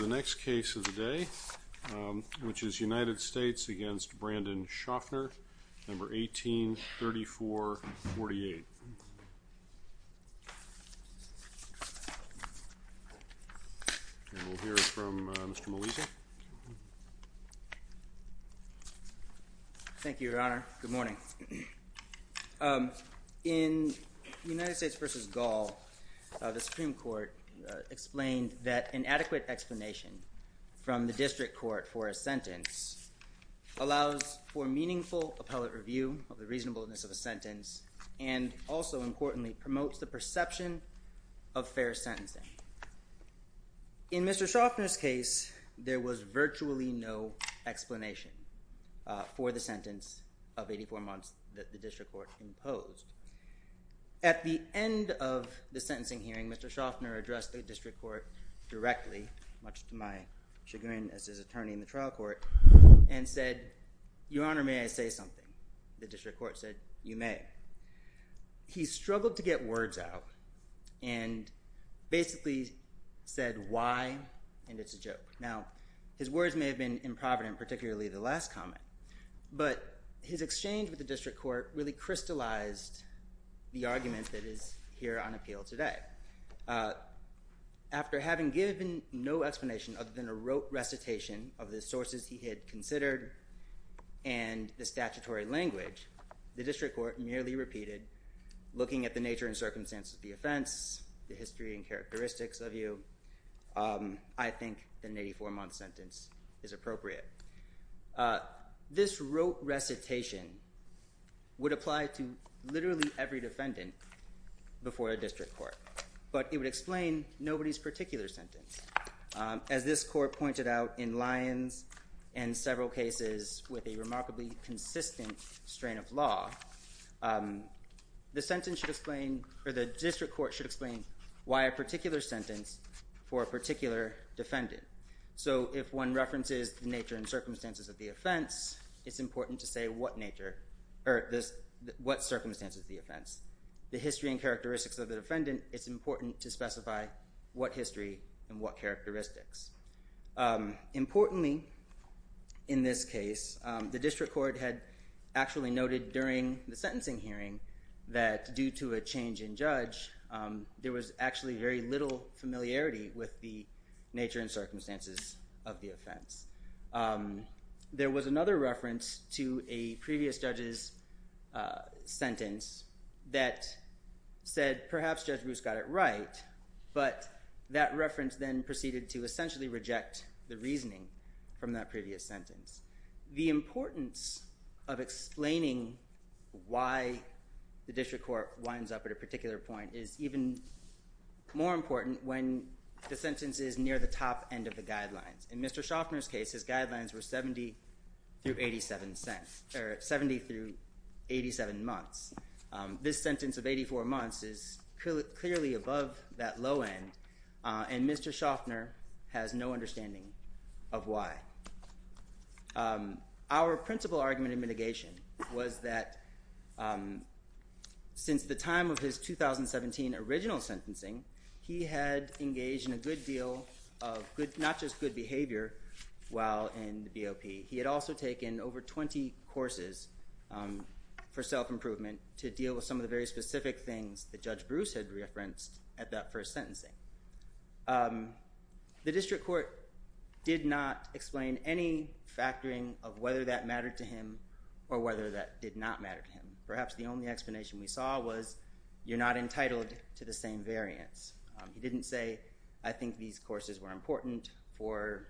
The next case of the day, which is United States v. Brandon Shoffner, No. 18-3448. And we'll hear from Mr. Melisa. Thank you, Your Honor. Good morning. In United States v. Gall, the Supreme Court explained that an adequate explanation from the district court for a sentence allows for meaningful appellate review of the reasonableness of a sentence and also, importantly, promotes the perception of fair sentencing. In Mr. Shoffner's case, there was virtually no explanation for the sentence of 84 months that the district court imposed. At the end of the sentencing hearing, Mr. Shoffner addressed the district court directly, much to my chagrin as his attorney in the trial court, and said, Your Honor, may I say something? The district court said, You may. He struggled to get words out and basically said, Why? And it's a joke. Now, his words may have been improvident, particularly the last comment, but his exchange with the district court really crystallized the argument that is here on appeal today. After having given no explanation other than a rote recitation of the sources he had considered and the statutory language, the district court nearly repeated, Looking at the nature and circumstances of the offense, the history and characteristics of you, I think that an 84-month sentence is appropriate. This rote recitation would apply to literally every defendant before a district court, but it would explain nobody's particular sentence. As this court pointed out in Lyons and several cases with a remarkably consistent strain of law, the sentence should explain, or the district court should explain why a particular sentence for a particular defendant. So if one references the nature and circumstances of the offense, it's important to say what nature, or what circumstances of the offense. The history and characteristics of the defendant, it's important to specify what history and what characteristics. Importantly in this case, the district court had actually noted during the sentencing hearing that due to a change in judge, there was actually very little familiarity with the nature and circumstances of the offense. There was another reference to a previous judge's sentence that said perhaps Judge Bruce got it right, but that reference then proceeded to essentially reject the reasoning from that previous sentence. The importance of explaining why the district court winds up at a particular point is even more important when the sentence is near the top end of the guidelines. In Mr. Schaffner's case, his guidelines were 70 through 87 months. This sentence of 84 months is clearly above that low end, and Mr. Schaffner has no understanding of why. Our principal argument in mitigation was that since the time of his 2017 original sentencing, he had engaged in a good deal of not just good behavior while in the BOP, he had also taken over 20 courses for self-improvement to deal with some of the very specific things that Judge Bruce had referenced at that first sentencing. The district court did not explain any factoring of whether that mattered to him or whether that did not matter to him. Perhaps the only explanation we saw was, you're not entitled to the same variance. He didn't say, I think these courses were important for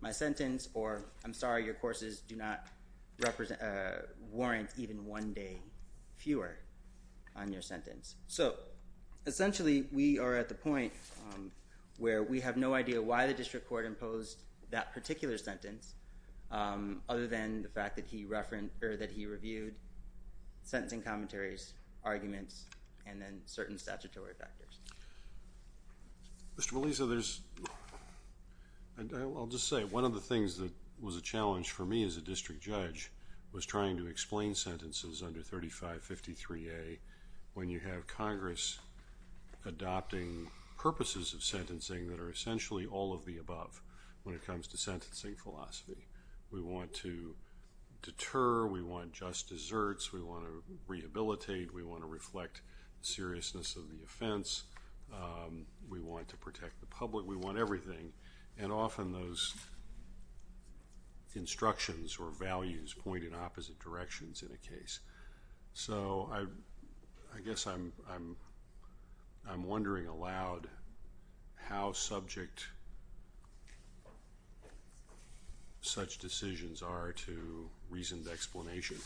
my sentence, or I'm sorry your courses do not warrant even one day fewer on your sentence. So essentially, we are at the point where we have no idea why the district court imposed that particular sentence other than the fact that he reviewed sentencing commentaries, arguments, and then certain statutory factors. Mr. Malisa, I'll just say one of the things that was a challenge for me as a district judge was trying to explain sentences under 3553A when you have Congress adopting purposes of sentencing that are essentially all of the above when it comes to sentencing philosophy. We want to deter, we want just deserts, we want to rehabilitate, we want to reflect seriousness of the offense, we want to protect the public, we want everything. And often those instructions or values point in opposite directions in a case. So I guess I'm wondering aloud how subject such decisions are to reasoned explanation.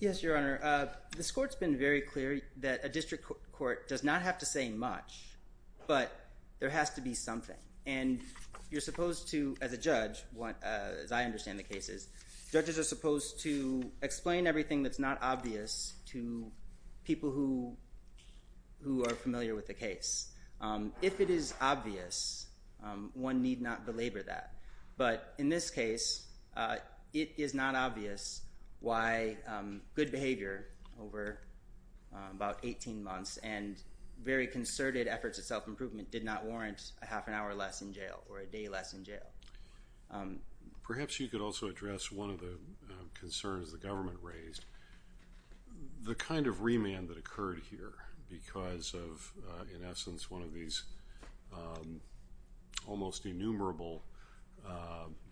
Yes, Your Honor. This court's been very clear that a district court does not have to say much, but there has to be something. And you're supposed to, as a judge, as I understand the cases, judges are supposed to explain everything that's not obvious to people who are familiar with the case. If it is obvious, one need not belabor that. But in this case, it is not obvious why good behavior over about 18 months and very concerted efforts at self-improvement did not warrant a half an hour less in jail or a day less in jail. Perhaps you could also address one of the concerns the government raised. The kind of remand that occurred here because of, in essence, one of these almost innumerable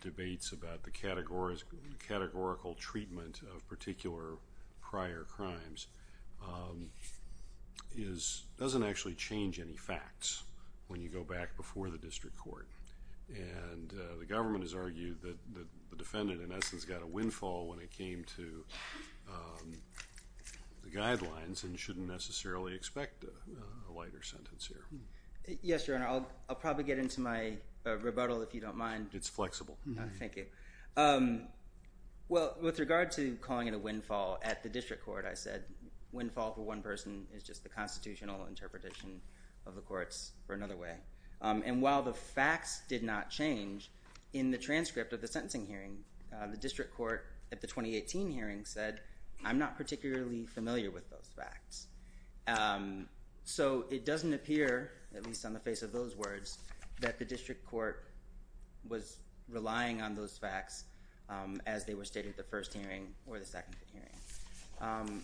debates about the categorical treatment of particular prior crimes doesn't actually change any facts when you go back before the district court. And the government has argued that the defendant, in essence, got a windfall when it came to the guidelines and shouldn't necessarily expect a lighter sentence here. Yes, Your Honor. I'll probably get into my rebuttal if you don't mind. It's flexible. Thank you. Well, with regard to calling it a windfall at the district court, I said windfall for one person is just the constitutional interpretation of the courts for another way. And while the facts did not change in the transcript of the sentencing hearing, the district court at the 2018 hearing said, I'm not particularly familiar with those facts. So it doesn't appear, at least on the face of those words, that the district court was relying on those facts as they were stated at the first hearing or the second hearing.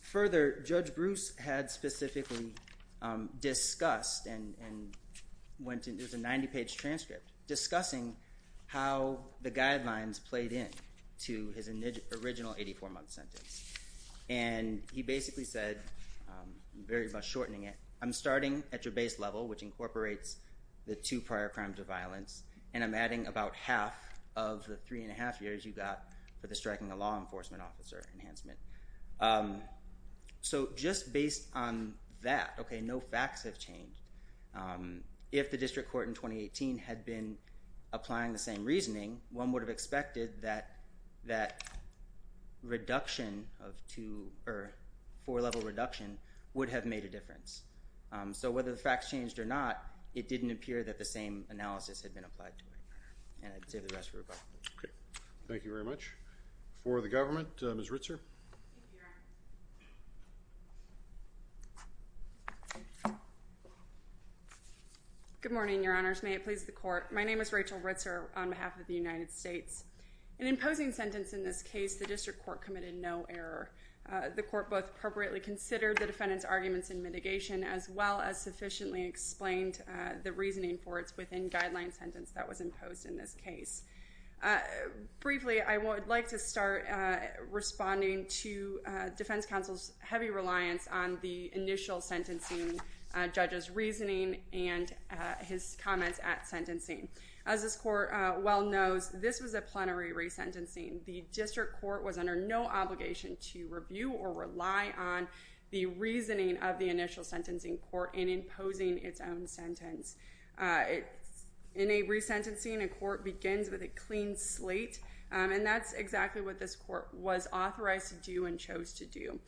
Further, Judge Bruce had specifically discussed and went into a 90-page transcript discussing how the guidelines played in to his original 84-month sentence. And he basically said, very much shortening it, I'm starting at your base level, which incorporates the two prior crimes of violence, and I'm adding about half of the 3 1⁄2 years you got for the striking a law enforcement officer enhancement. So just based on that, okay, no facts have changed. If the district court in 2018 had been applying the same reasoning, one would have expected that that reduction of two or four-level reduction would have made a difference. So whether the facts changed or not, it didn't appear that the same analysis had been applied to it. And I'd save the rest for rebuttal. Okay. Thank you very much. For the government, Ms. Ritzer. Thank you, Your Honor. Good morning, Your Honors. May it please the court. My name is Rachel Ritzer on behalf of the United States. In imposing sentence in this case, the district court committed no error. The court both appropriately considered the defendant's arguments in mitigation as well as sufficiently explained the reasoning for its within-guideline sentence that was imposed in this case. Briefly, I would like to start responding to defense counsel's heavy reliance on the initial sentencing judge's reasoning and his comments at sentencing. As this court well knows, this was a plenary resentencing. The district court was under no obligation to review or rely on the reasoning of the initial sentencing court in imposing its own sentence. In a resentencing, a court begins with a clean slate, and that's exactly what this court was authorized to do and chose to do.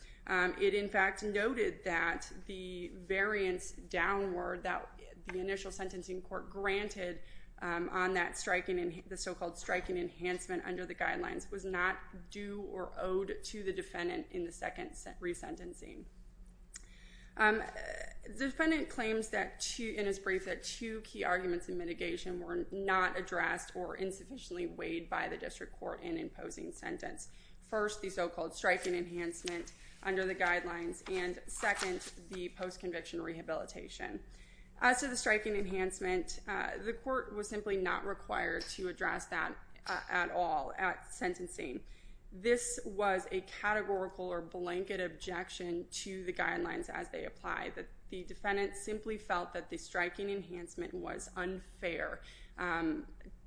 It in fact noted that the variance downward that the initial sentencing court granted on that striking, the so-called striking enhancement under the guidelines, was not due or owed to the defendant in the second resentencing. The defendant claims in his brief that two key arguments in mitigation were not addressed or insufficiently weighed by the district court in imposing sentence. First, the so-called striking enhancement under the guidelines, and second, the post-conviction rehabilitation. As to the striking enhancement, the court was simply not required to address that at all at sentencing. This was a categorical or blanket objection to the guidelines as they apply. The defendant simply felt that the striking enhancement was unfair,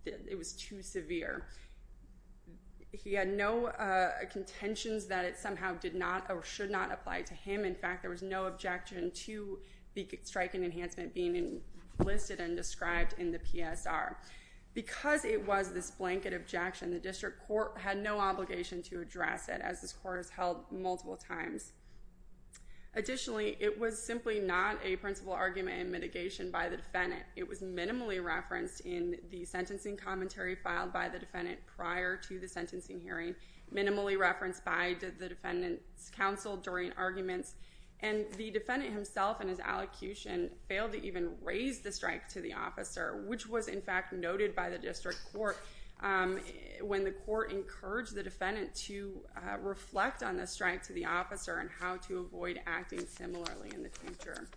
it was too severe. He had no contentions that it somehow did not or should not apply to him. In fact, there was no objection to the striking enhancement being listed and described in the PSR. Because it was this blanket objection, the district court had no obligation to address it as this court has held multiple times. Additionally, it was simply not a principle argument in mitigation by the defendant. It was minimally referenced in the sentencing commentary filed by the defendant prior to the sentencing hearing, minimally referenced by the defendant's counsel during arguments, and the defendant himself in his allocution failed to even raise the strike to the officer, which was in fact noted by the district court when the court encouraged the defendant to reflect on the strike to the officer and how to avoid acting similarly in the future.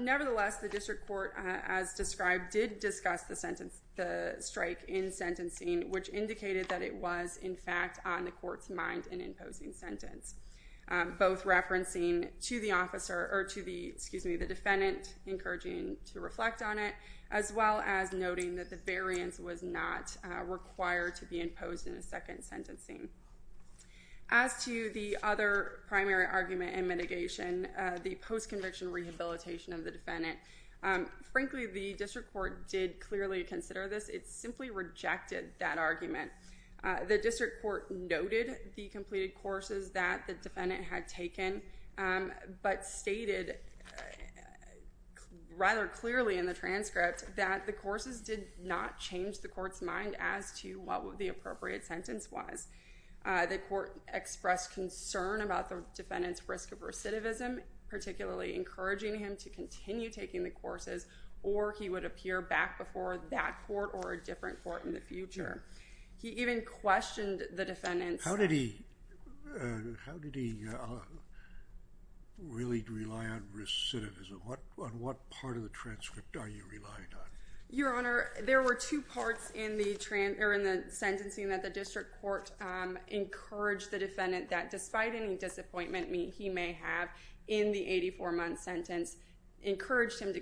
Nevertheless, the district court, as described, did discuss the strike in sentencing, which indicated that it was in fact on the court's mind in imposing sentence, both referencing to the defendant encouraging to reflect on it, as well as noting that the variance was not required to be imposed in a second sentencing. As to the other primary argument in mitigation, the post-conviction rehabilitation of the defendant, frankly, the district court did clearly consider this. It simply rejected that argument. The district court noted the completed courses that the defendant had taken, but stated rather clearly in the transcript that the courses did not change the court's mind as to what the appropriate sentence was. The court expressed concern about the defendant's risk of recidivism, particularly encouraging him to continue taking the courses or he would appear back before that court or a different court in the future. He even questioned the defendant's... How did he really rely on recidivism? On what part of the transcript are you relying on? Your Honor, there were two parts in the sentencing that the district court encouraged the defendant that despite any disappointment he may have in the 84-month sentence, encouraged him to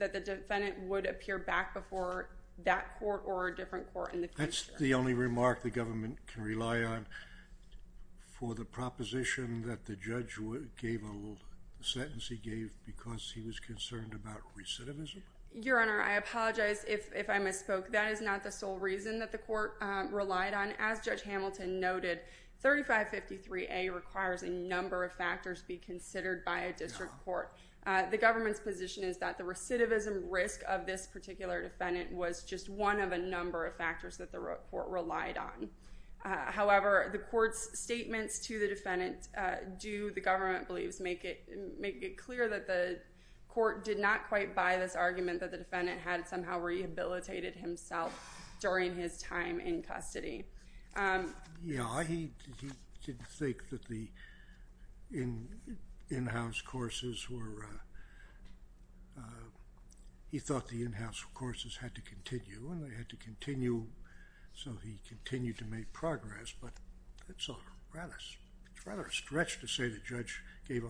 that the defendant would appear back before that court or a different court in the future. That's the only remark the government can rely on for the proposition that the judge gave a little sentence he gave because he was concerned about recidivism? Your Honor, I apologize if I misspoke. That is not the sole reason that the court relied on. As Judge Hamilton noted, 3553A requires a number of factors be considered by a district court. The government's position is that the recidivism risk of this particular defendant was just one of a number of factors that the court relied on. However, the court's statements to the defendant do, the government believes, make it clear that the court did not quite buy this argument that the defendant had somehow rehabilitated himself during his time in custody. Yeah, he did think that the in-house courses were, he thought the in-house courses had to continue and they had to continue, so he continued to make progress, but it's a rather a stretch to say that Judge gave a,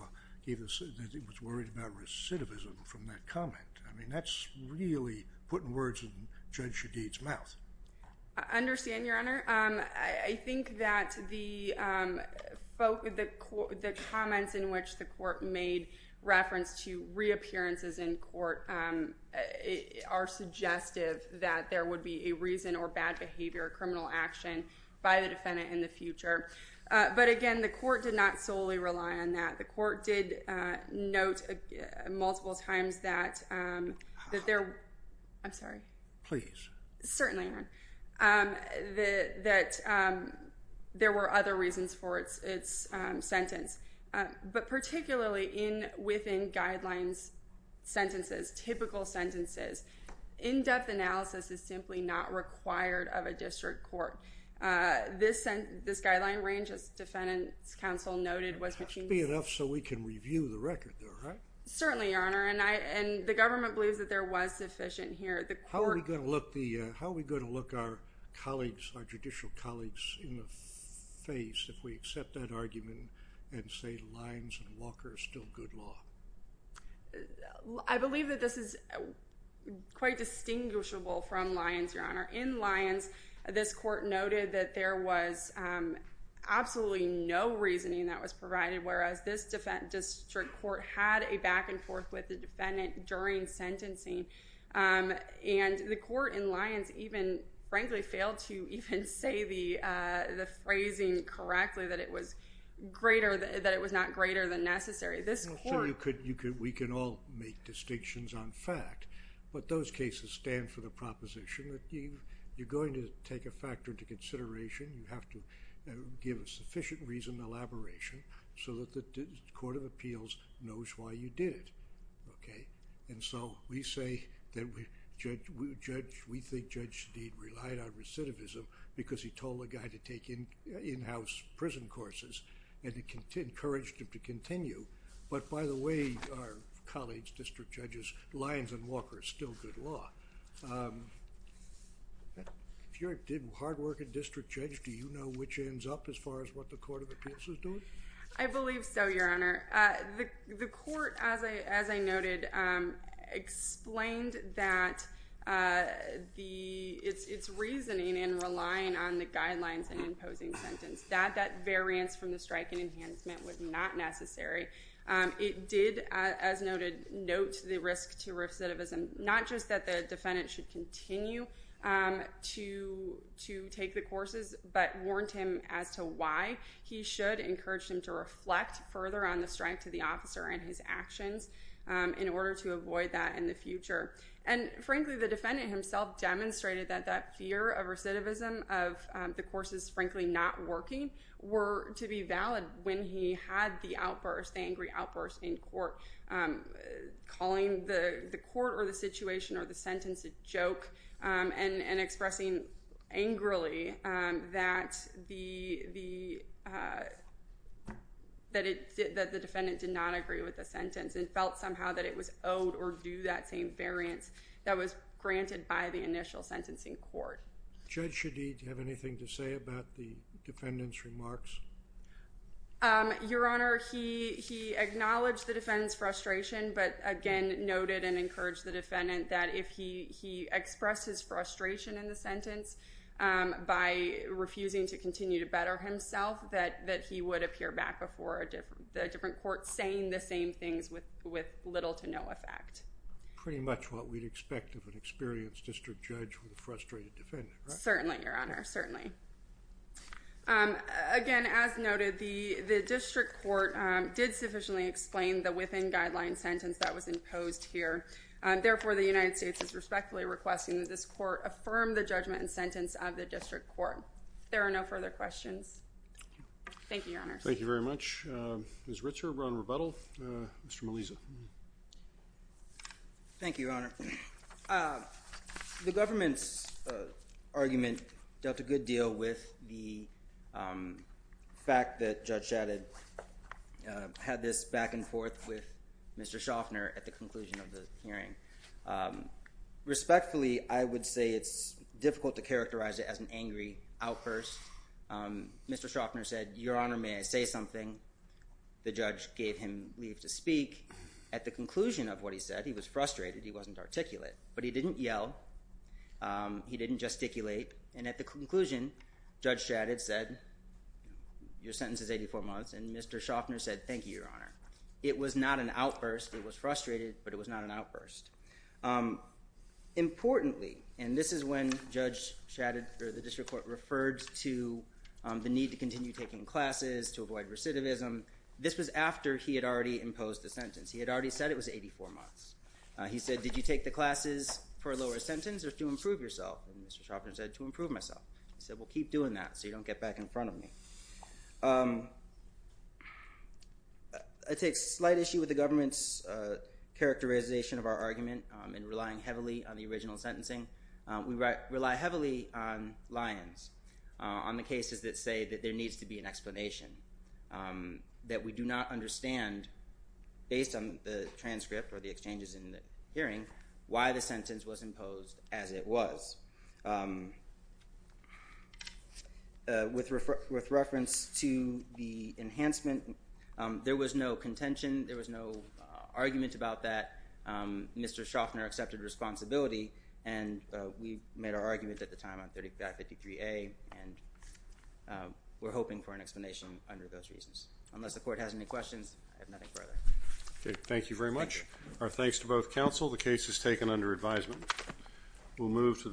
that he was worried about recidivism from that comment. I mean, that's really putting words in Judge Shadid's mouth. I understand, Your Honor. I think that the, the comments in which the court made reference to reappearances in court are suggestive that there would be a reason or bad behavior, criminal action by the defendant in the future. But again, the court did not solely rely on that. The court did note multiple times that, that there, I'm sorry. Please. Certainly, Your Honor, that, that there were other reasons for its, its sentence. But particularly in, within guidelines, sentences, typical sentences, in-depth analysis is simply not required of a district court. This sent, this guideline range, as defendant's counsel noted, was machined. It has to be enough so we can review the record there, right? Certainly, Your Honor, and I, and the government believes that there was sufficient here. The court. How are we going to look the, how are we going to look our colleagues, our judicial colleagues in the face if we accept that argument and say Lyons and Walker are still good law? I believe that this is quite distinguishable from Lyons, Your Honor. In Lyons, this court noted that there was absolutely no reasoning that was provided, whereas this district court had a back-and-forth with the defendant during sentencing, and the court in Lyons even, frankly, failed to even say the, the phrasing correctly that it was greater, that it was not greater than necessary. This court. So you could, you could, we can all make distinctions on fact, but those cases stand for the proposition that you, you're going to take a factor into consideration, you have to give a sufficient reason, elaboration, so that the court of appeals knows why you did it, okay? And so, we say that we judge, we judge, we think Judge Steed relied on recidivism because he told the guy to take in, in-house prison courses, and it encouraged him to continue, but by the way, our colleagues, district judges, Lyons and Walker are still good law. If you're a, did, hard-working district judge, do you know which ends up as far as what the court of appeals is doing? I believe so, Your Honor. Uh, the, the court, as I, as I noted, um, explained that, uh, the, it's, it's reasoning in relying on the guidelines and imposing sentence, that, that variance from the strike and enhancement was not necessary, um, it did, uh, as noted, note the risk to recidivism, not just that the defendant should continue, um, to, to take the courses, but warned him as to why he should encourage him to reflect further on the strike to the officer and his actions, um, in order to avoid that in the future. And frankly, the defendant himself demonstrated that that fear of recidivism, of, um, the courses frankly not working, were to be valid when he had the outburst, the angry outburst in court, um, calling the, the court or the situation or the sentence a joke, um, and, and expressing angrily, um, that the, the, uh, that it, that the defendant did not agree with the sentence and felt somehow that it was owed or do that same variance that was granted by the initial sentencing court. Judge Shadeed, do you have anything to say about the defendant's remarks? Um, Your Honor, he, he acknowledged the defendant's frustration, but again, noted and encouraged the defendant that if he, he expressed his frustration in the sentence, um, by refusing to continue to better himself, that, that he would appear back before a different, a different court saying the same things with, with little to no effect. Pretty much what we'd expect of an experienced district judge with a frustrated defendant, right? Certainly, Your Honor, certainly. Um, again, as noted, the, the district court, um, did sufficiently explain the within guideline sentence that was imposed here, um, therefore the United States is respectfully requesting that this court affirm the judgment and sentence of the district court. There are no further questions. Thank you, Your Honor. Thank you very much. Um, Ms. Ritzer, Ron Rebuttal, uh, Mr. Melisa. Thank you, Your Honor. Um, the government's, uh, argument dealt a good deal with the, um, fact that Judge Shadeed, um, uh, had this back and forth with Mr. Schaffner at the conclusion of the hearing. Um, respectfully, I would say it's difficult to characterize it as an angry outburst. Um, Mr. Schaffner said, Your Honor, may I say something? The judge gave him leave to speak. At the conclusion of what he said, he was frustrated, he wasn't articulate, but he didn't yell. Um, he didn't gesticulate and at the conclusion, Judge Shadeed said, your sentence is 84 months and Mr. Schaffner said, thank you, Your Honor. It was not an outburst. It was frustrated, but it was not an outburst. Um, importantly, and this is when Judge Shadeed, or the district court, referred to, um, the need to continue taking classes, to avoid recidivism. This was after he had already imposed the sentence. He had already said it was 84 months. Uh, he said, did you take the classes for a lower sentence or to improve yourself? And Mr. Schaffner said, to improve myself. He said, well, keep doing that so you don't get back in front of me. Um, I take slight issue with the government's, uh, characterization of our argument, um, in relying heavily on the original sentencing. Um, we rely heavily on lions, uh, on the cases that say that there needs to be an explanation. Um, that we do not understand, based on the transcript or the exchanges in the hearing, why the sentence was imposed as it was. Um, uh, with reference to the enhancement, um, there was no contention. There was no, uh, argument about that. Um, Mr. Schaffner accepted responsibility, and, uh, we made our argument at the time on 3553A, and, um, we're hoping for an explanation under those reasons. Unless the court has any questions, I have nothing further. Okay, thank you very much. Thank you. Our thanks to both counsel. The case is taken under advisement. We'll move to the...